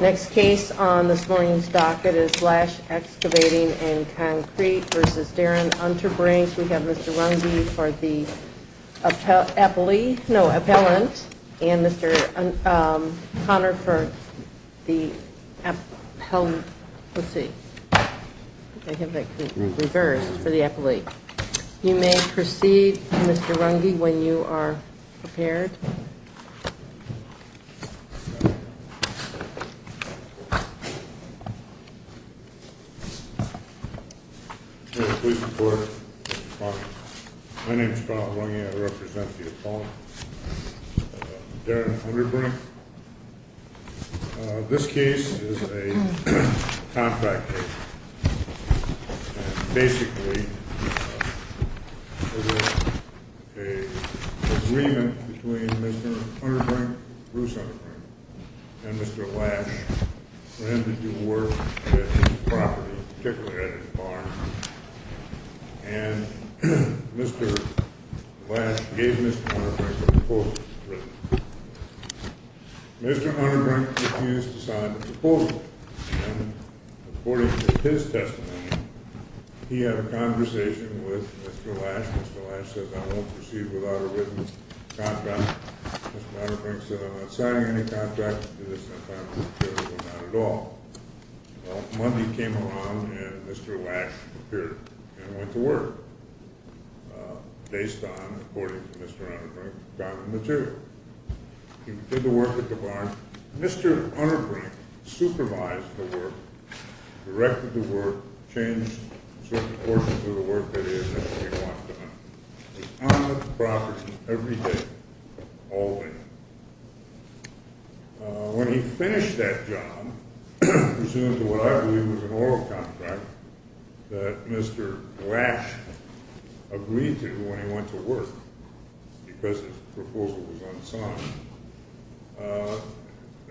Next case on this morning's docket is Lash Excavating & Concrete v. Darren Unterbrink. We have Mr. Runge for the appellant and Mr. Connor for the appellant. Let's see. I think I reversed for the appellant. You may proceed, Mr. Runge, when you are prepared. Please report, Mr. Connor. My name is Bob Runge. I represent the appellant, Darren Unterbrink. This case is a contract case. Basically, there was an agreement between Mr. Unterbrink, Bruce Unterbrink, and Mr. Lash for him to do work at his property, particularly at his barn. Mr. Lash gave Mr. Unterbrink a proposal. Mr. Unterbrink refused to sign the proposal. According to his testimony, he had a conversation with Mr. Lash. Mr. Lash said, I won't proceed without a written contract. Mr. Unterbrink said, I'm not signing any contract. He said, I'm not at all. Well, Monday came along and Mr. Lash appeared and went to work, based on, according to Mr. Unterbrink, dominant material. He did the work at the barn. Mr. Unterbrink supervised the work, directed the work, changed certain portions of the work that he had initially wanted to do. He was on the property every day, all day. When he finished that job, presumed to what I believe was an oral contract that Mr. Lash agreed to when he went to work, because his proposal was unsigned,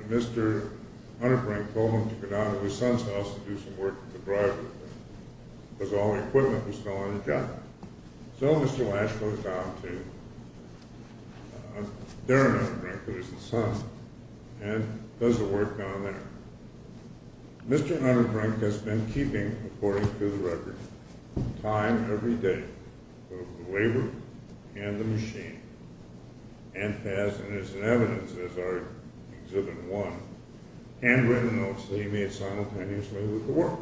Mr. Unterbrink told him to go down to his son's house and do some work at the driveway, because all the equipment was still on the job. So Mr. Lash goes down to Darren Unterbrink, who is his son, and does the work down there. Mr. Unterbrink has been keeping, according to the record, time every day of the labor and the machine, and has, and is in evidence, as our exhibit one, handwritten notes that he made simultaneously with the work.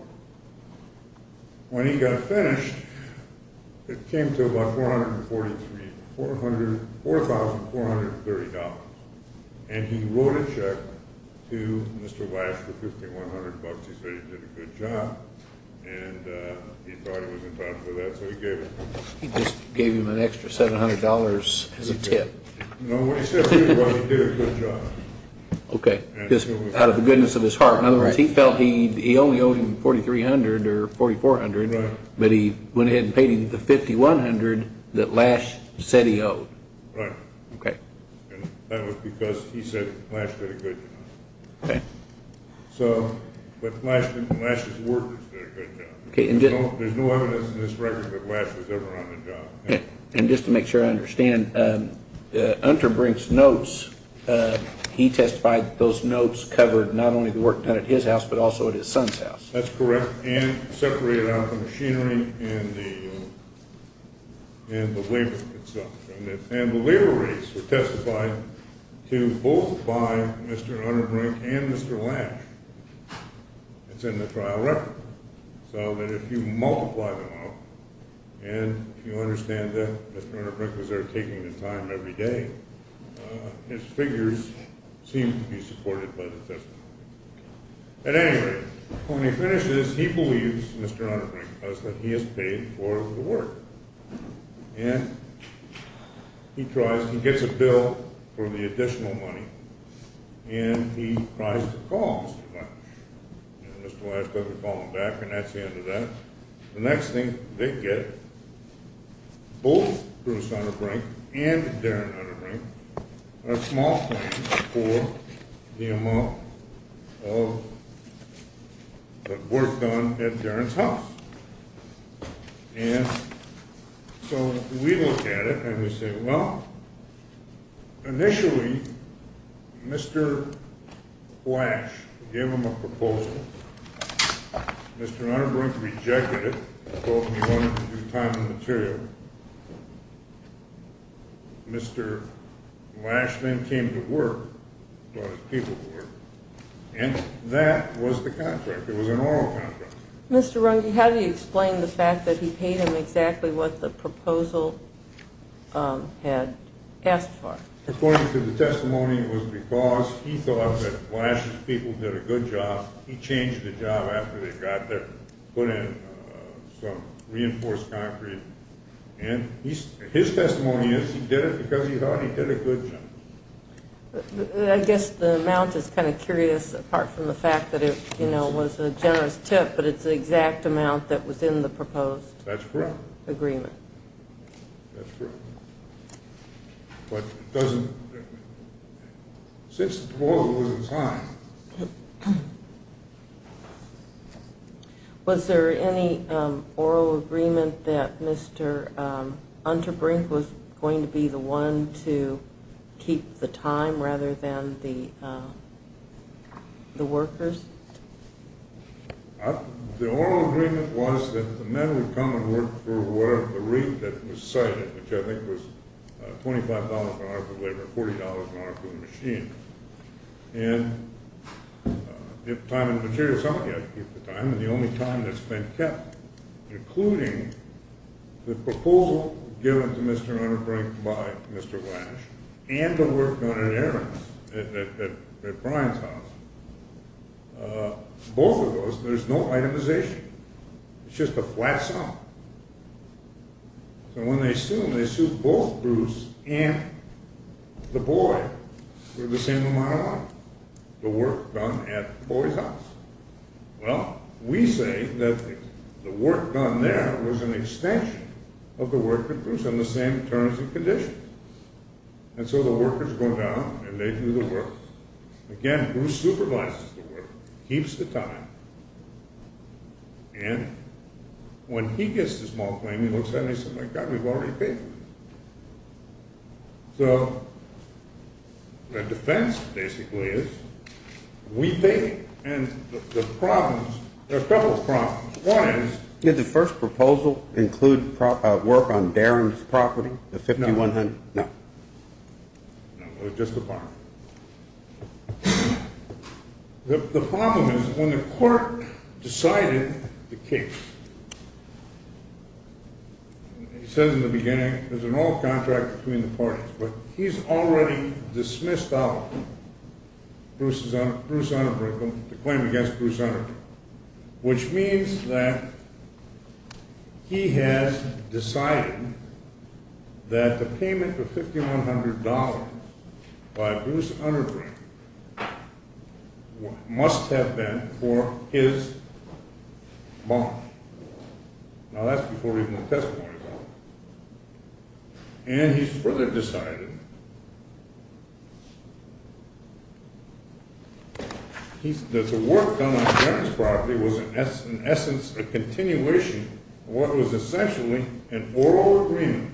When he got finished, it came to about $4,430. And he wrote a check to Mr. Lash for $5,100. He said he did a good job, and he thought he was entitled to that, so he gave it to him. He just gave him an extra $700 as a tip. No, what he said to me was he did a good job. Okay, just out of the goodness of his heart. In other words, he felt he only owed him $4,300 or $4,400, but he went ahead and paid him the $5,100 that Lash said he owed. Right. Okay. And that was because he said Lash did a good job. Okay. So, but Lash's workers did a good job. Okay, and just There's no evidence in this record that Lash was ever on the job. And just to make sure I understand, Unterbrink's notes, he testified that those notes covered not only the work done at his house, but also at his son's house. That's correct, and separated out the machinery and the labor itself. And the labor rates were testified to both by Mr. Unterbrink and Mr. Lash. It's in the trial record. So that if you multiply them out, and if you understand that Mr. Unterbrink was there taking the time every day, his figures seem to be supported by the testimony. At any rate, when he finishes, he believes Mr. Unterbrink knows that he has paid for the work. And he tries, he gets a bill for the additional money, and he tries to call Mr. Lash. And Mr. Lash doesn't call him back, and that's the end of that. The next thing they get, both Bruce Unterbrink and Darren Unterbrink, are small claims for the amount of the work done at Darren's house. And so we look at it, and we say, well, initially, Mr. Lash gave him a proposal. Mr. Unterbrink rejected it, told him he wanted to do time and material. Mr. Lash then came to work, brought his people to work, and that was the contract. It was an oral contract. Mr. Runge, how do you explain the fact that he paid him exactly what the proposal had asked for? According to the testimony, it was because he thought that Lash's people did a good job. He changed the job after they got there, put in some reinforced concrete. And his testimony is he did it because he thought he did a good job. I guess the amount is kind of curious, apart from the fact that it was a generous tip, but it's the exact amount that was in the proposed agreement. That's correct. That's correct. But it doesn't – since the proposal was in time. Was there any oral agreement that Mr. Unterbrink was going to be the one to keep the time rather than the workers? The oral agreement was that the men would come and work for whatever the rate that was cited, which I think was $25 an hour for labor, $40 an hour for the machine. And if time and material is up, you have to keep the time. And the only time that's been kept, including the proposal given to Mr. Unterbrink by Mr. Lash and the work done at Brian's house, both of those, there's no itemization. It's just a flat sum. So when they assume, they assume both Bruce and the boy were the same amount of work, the work done at the boy's house. Well, we say that the work done there was an extension of the work that Bruce and the same terms and conditions. And so the workers go down and they do the work. Again, Bruce supervises the work, keeps the time. And when he gets the small claim, he looks at it and he says, my God, we've already paid for it. So the defense basically is we pay and the problems, there are a couple of problems. One is… Did the first proposal include work on Darren's property, the $5,100? No. No. No, it was just the barn. The problem is when the court decided the case, it says in the beginning, there's an old contract between the parties, but he's already dismissed out Bruce Unterbrink, the claim against Bruce Unterbrink, which means that he has decided that the payment of $5,100 by Bruce Unterbrink must have been for his barn. Now, that's before even the testimony is out. And he's further decided. The work done on Darren's property was, in essence, a continuation of what was essentially an oral agreement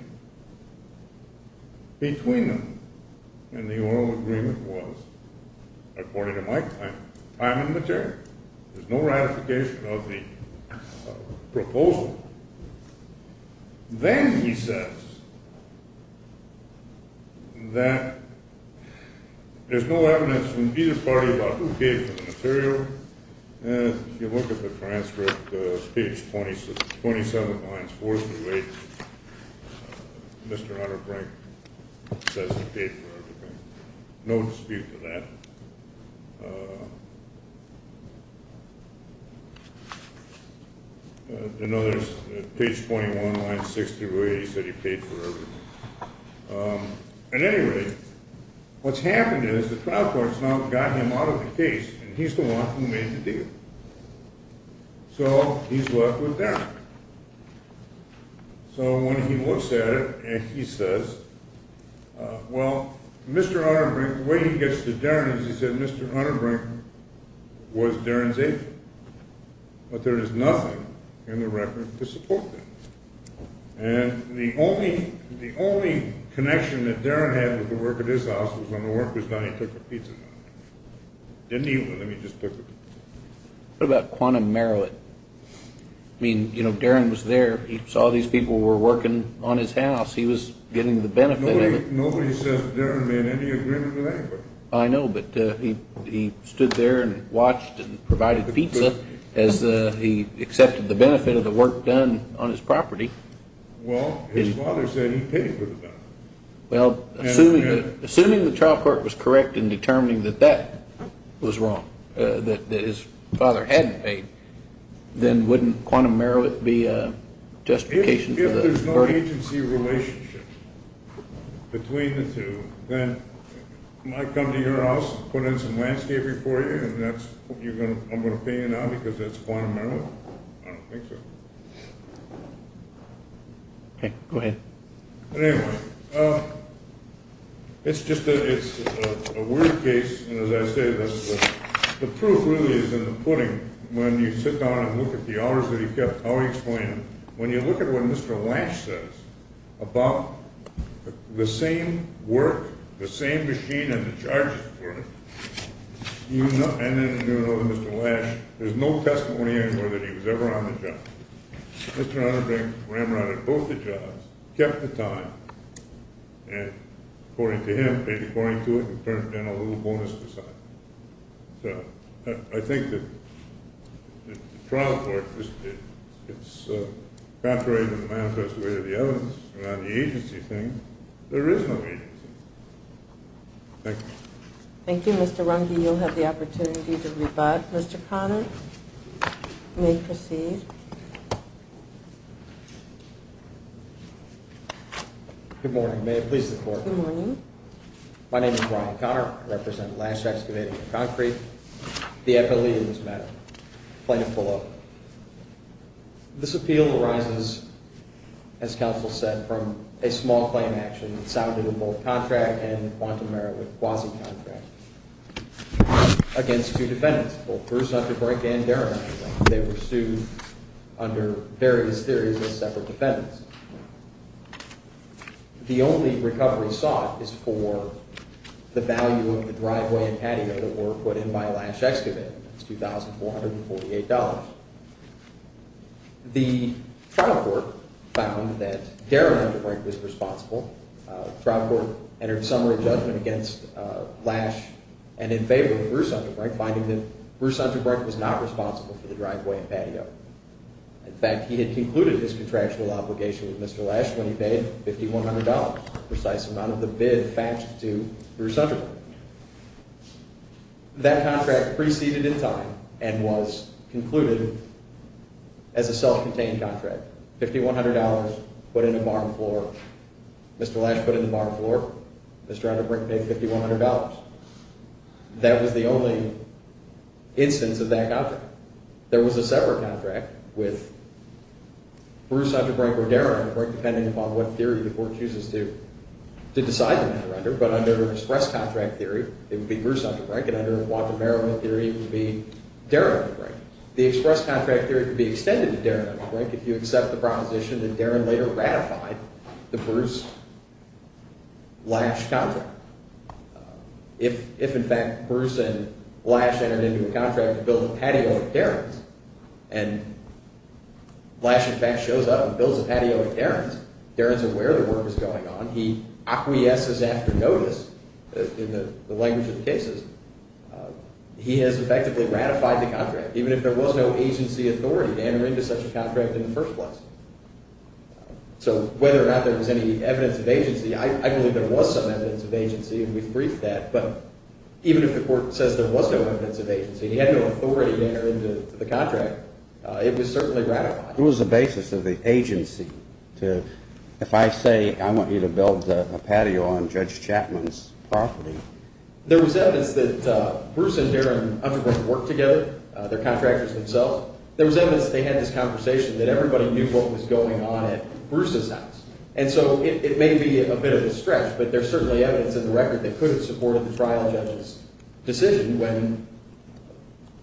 between them. And the oral agreement was, according to my claim, time and material. There's no ratification of the proposal. Then he says that there's no evidence from either party about who paid for the material. If you look at the transcript, page 27, lines 4 through 8, Mr. Unterbrink says he paid for everything. No dispute to that. I know there's page 21, lines 6 through 8, he said he paid for everything. At any rate, what's happened is the trial court's now got him out of the case, and he's the one who made the deal. So he's left with Darren. So when he looks at it, and he says, well, Mr. Unterbrink, the way he gets to Darren is he said Mr. Unterbrink was Darren's agent. But there is nothing in the record to support that. And the only connection that Darren had with the work at his house was when the work was done, he took the pizza from him. Didn't eat with him, he just took the pizza. What about quantum merit? I mean, you know, Darren was there, he saw these people were working on his house, he was getting the benefit of it. Nobody says Darren made any agreement with anybody. I know, but he stood there and watched and provided pizza as he accepted the benefit of the work done on his property. Well, his father said he paid for the benefit. Well, assuming the trial court was correct in determining that that was wrong, that his father hadn't paid, then wouldn't quantum merit be a justification for the verdict? If there's no agency relationship between the two, then might come to your house, put in some landscaping for you, and I'm going to pay you now because that's quantum merit? I don't think so. Okay, go ahead. Anyway, it's just that it's a weird case, and as I say, the proof really is in the pudding. When you sit down and look at the hours that he kept, how he explained them, when you look at what Mr. Lash says about the same work, the same machine and the charges for it, and then you know that Mr. Lash, there's no testimony anywhere that he was ever on the job. Mr. Conner ramrodded both the jobs, kept the time, and according to him, paid according to it, and burnt down a little bonus beside it. So, I think that the trial court, it's evaporated in the manifest way of the evidence, and on the agency thing, there is no agency. Thank you. Thank you, Mr. Runge. You'll have the opportunity to rebut. Mr. Conner, you may proceed. Good morning. May it please the court. Good morning. My name is Brian Conner. I represent Lash Excavating and Concrete, the FLE in this matter, plaintiff below. This appeal arises, as counsel said, from a small claim action that sounded in both contract and quantum merit with quasi-contract. Against two defendants, both Bruce Underbrink and Darren Underbrink. They were sued under various theories as separate defendants. The only recovery sought is for the value of the driveway and patio that were put in by Lash Excavating. That's $2,448. The trial court found that Darren Underbrink was responsible. The trial court entered summary judgment against Lash and in favor of Bruce Underbrink, finding that Bruce Underbrink was not responsible for the driveway and patio. In fact, he had concluded his contractual obligation with Mr. Lash when he paid $5,100, the precise amount of the bid faxed to Bruce Underbrink. That contract preceded in time and was concluded as a self-contained contract. $5,100 put in a barn floor. Mr. Lash put in a barn floor. Mr. Underbrink paid $5,100. That was the only instance of that contract. There was a separate contract with Bruce Underbrink or Darren Underbrink, depending upon what theory the court chooses to decide on that render. But under express contract theory, it would be Bruce Underbrink, and under quantum merit theory, it would be Darren Underbrink. The express contract theory could be extended to Darren Underbrink if you accept the proposition that Darren later ratified the Bruce-Lash contract. If, in fact, Bruce and Lash entered into a contract to build a patio with Darren's, and Lash, in fact, shows up and builds a patio with Darren's, Darren's aware the work is going on, he acquiesces after notice in the language of the cases, he has effectively ratified the contract, even if there was no agency authority to enter into such a contract in the first place. So whether or not there was any evidence of agency, I believe there was some evidence of agency, and we've briefed that, but even if the court says there was no evidence of agency, he had no authority to enter into the contract, it was certainly ratified. It was the basis of the agency to, if I say I want you to build a patio on Judge Chapman's property. There was evidence that Bruce and Darren Underbrink worked together, they're contractors themselves. There was evidence they had this conversation that everybody knew what was going on at Bruce's house. And so it may be a bit of a stretch, but there's certainly evidence in the record that could have supported the trial judge's decision when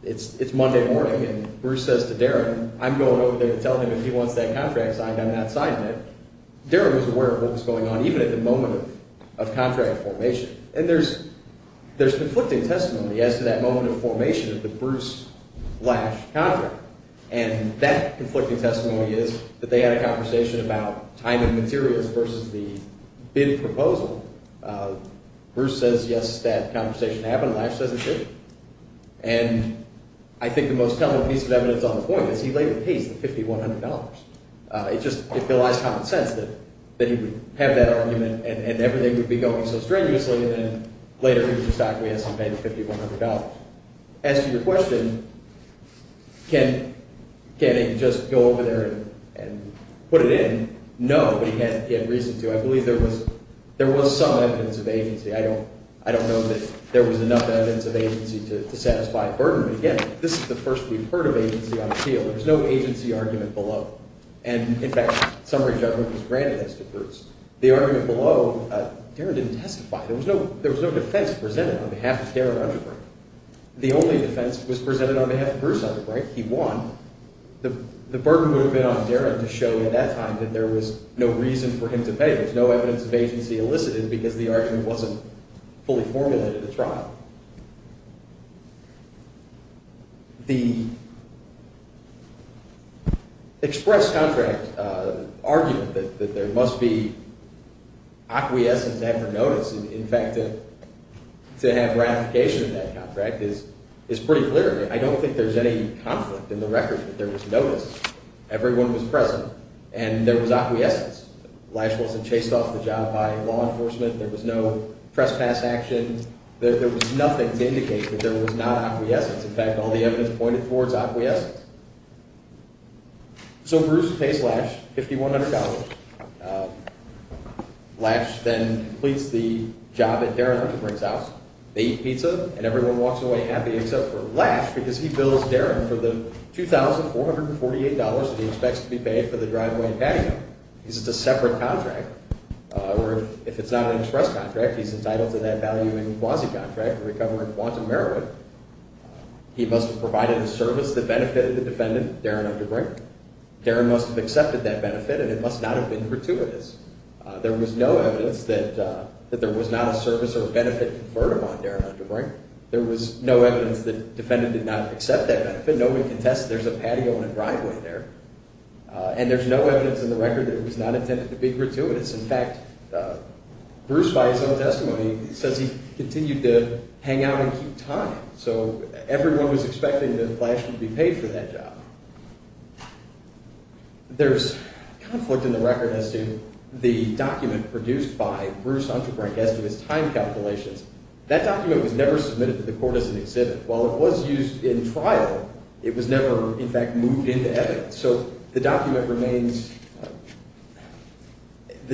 it's Monday morning and Bruce says to Darren, I'm going over there to tell him if he wants that contract signed, I'm not signing it. Darren was aware of what was going on, even at the moment of contract formation. And there's conflicting testimony as to that moment of formation of the Bruce-Lash contract. And that conflicting testimony is that they had a conversation about time and materials versus the bid proposal. Bruce says yes, that conversation happened, Lash says it didn't. And I think the most telling piece of evidence on the point is he later pays the $5,100. It just, it belies common sense that he would have that argument and everything would be going so strenuously, and then later he was shocked when he has to pay the $5,100. As to your question, can't he just go over there and put it in? No, but he had reason to. I believe there was some evidence of agency. I don't know that there was enough evidence of agency to satisfy a burden. But again, this is the first we've heard of agency on a deal. There's no agency argument below. And in fact, summary judgment was granted as to Bruce. The argument below, Darren didn't testify. There was no defense presented on behalf of Darren Underbrink. The only defense was presented on behalf of Bruce Underbrink. He won. The burden would have been on Darren to show at that time that there was no reason for him to pay. There's no evidence of agency elicited because the argument wasn't fully formulated. It's wrong. The express contract argument that there must be acquiescence after notice, in fact, to have ratification of that contract is pretty clear. I don't think there's any conflict in the record that there was notice. Everyone was present, and there was acquiescence. Lash wasn't chased off the job by law enforcement. There was no trespass action. There was nothing to indicate that there was not acquiescence. In fact, all the evidence pointed towards acquiescence. So Bruce pays Lash $5,100. Lash then completes the job at Darren Underbrink's house. They eat pizza, and everyone walks away happy except for Lash because he bills Darren for the $2,448 that he expects to be paid for the driveway and patio. It's a separate contract. If it's not an express contract, he's entitled to that valuing quasi-contract, recovering quantum merit. He must have provided the service that benefited the defendant, Darren Underbrink. Darren must have accepted that benefit, and it must not have been gratuitous. There was no evidence that there was not a service or a benefit conferred upon Darren Underbrink. There was no evidence that the defendant did not accept that benefit. No one can test there's a patio and a driveway there. And there's no evidence in the record that it was not intended to be gratuitous. In fact, Bruce, by his own testimony, says he continued to hang out and keep time. So everyone was expecting that Lash would be paid for that job. There's conflict in the record as to the document produced by Bruce Underbrink as to his time calculations. That document was never submitted to the court as an exhibit. While it was used in trial, it was never, in fact, moved into evidence. So the document remains—the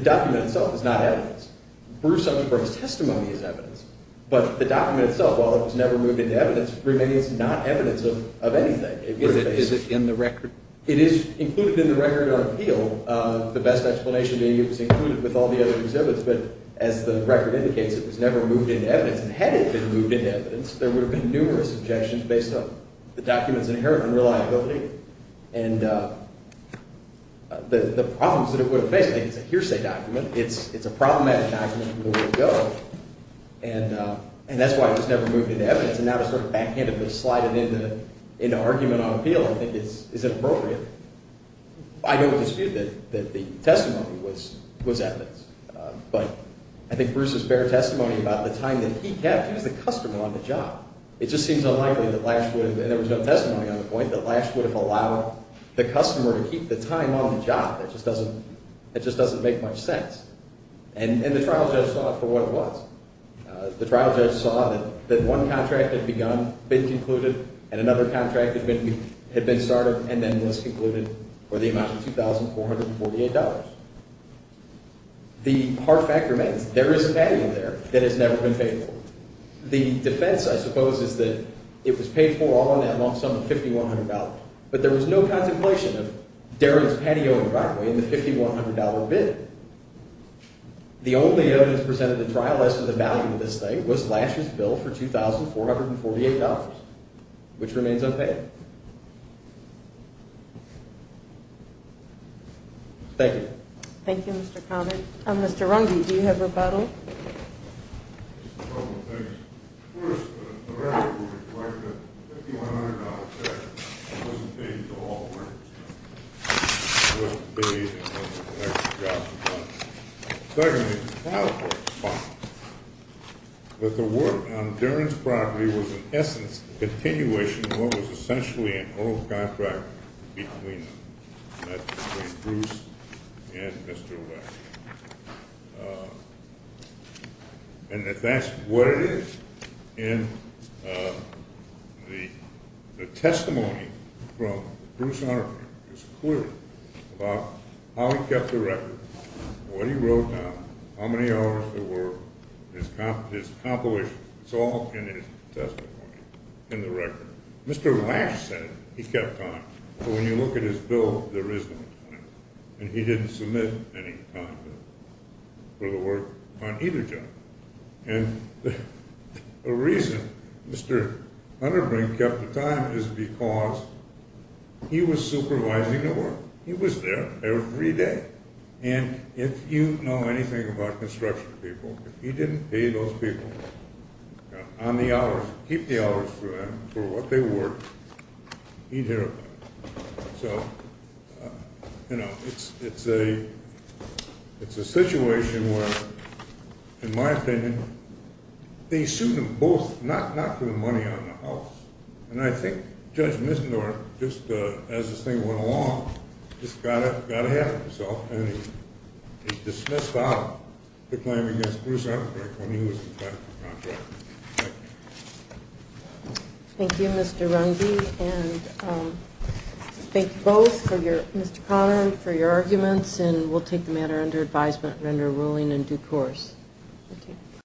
document itself is not evidence. Bruce Underbrink's testimony is evidence. But the document itself, while it was never moved into evidence, remains not evidence of anything. Is it in the record? It is included in the record under appeal, the best explanation being it was included with all the other exhibits. But as the record indicates, it was never moved into evidence. And had it been moved into evidence, there would have been numerous objections based on the document's inherent unreliability and the problems that it would have faced. It's a hearsay document. It's a problematic document from the word go. And that's why it was never moved into evidence. And now to sort of backhand it and slide it into argument on appeal, I think, is inappropriate. I don't dispute that the testimony was evidence. But I think Bruce's fair testimony about the time that he kept, he was the customer on the job. It just seems unlikely that Lash would have—and there was no testimony on the point— that Lash would have allowed the customer to keep the time on the job. That just doesn't make much sense. And the trial judge saw it for what it was. The trial judge saw that one contract had begun, been concluded, and another contract had been started and then was concluded for the amount of $2,448. The hard fact remains, there is a value there that has never been paid for. The defense, I suppose, is that it was paid for all in that long sum of $5,100. But there was no contemplation of Darren's patio and driveway in the $5,100 bid. The only evidence presented in trial as to the value of this thing was Lash's bill for $2,448, which remains unpaid. Thank you. Thank you, Mr. Conner. Mr. Runge, do you have rebuttal? Just a couple of things. First, the fact that we collected $5,100 back wasn't paid for all the work. It wasn't paid and wasn't the next job. Secondly, the fact that the work on Darren's property was, in essence, a continuation of what was essentially an old contract between Bruce and Mr. Lash. And if that's what it is, then the testimony from Bruce Hunter is clear about how he kept the record, what he wrote down, how many hours there were, his compilations. It's all in his testimony in the record. Mr. Lash said he kept time, but when you look at his bill, there is no time. And he didn't submit any time for the work on either job. And the reason Mr. Hunterbrink kept the time is because he was supervising the work. He was there every day. And if you know anything about construction people, if he didn't pay those people on the hours, keep the hours for them, for what they worked, he'd hear about it. So, you know, it's a situation where, in my opinion, they sued them both, not for the money on the house. And I think Judge Missendorf, just as this thing went along, just got ahead of himself and he dismissed the claim against Bruce Hunterbrink when he was in fact the contractor. Thank you. Thank you, Mr. Runge. And thank you both, Mr. Conner, for your arguments. And we'll take the matter under advisement and under a ruling in due course. Thank you.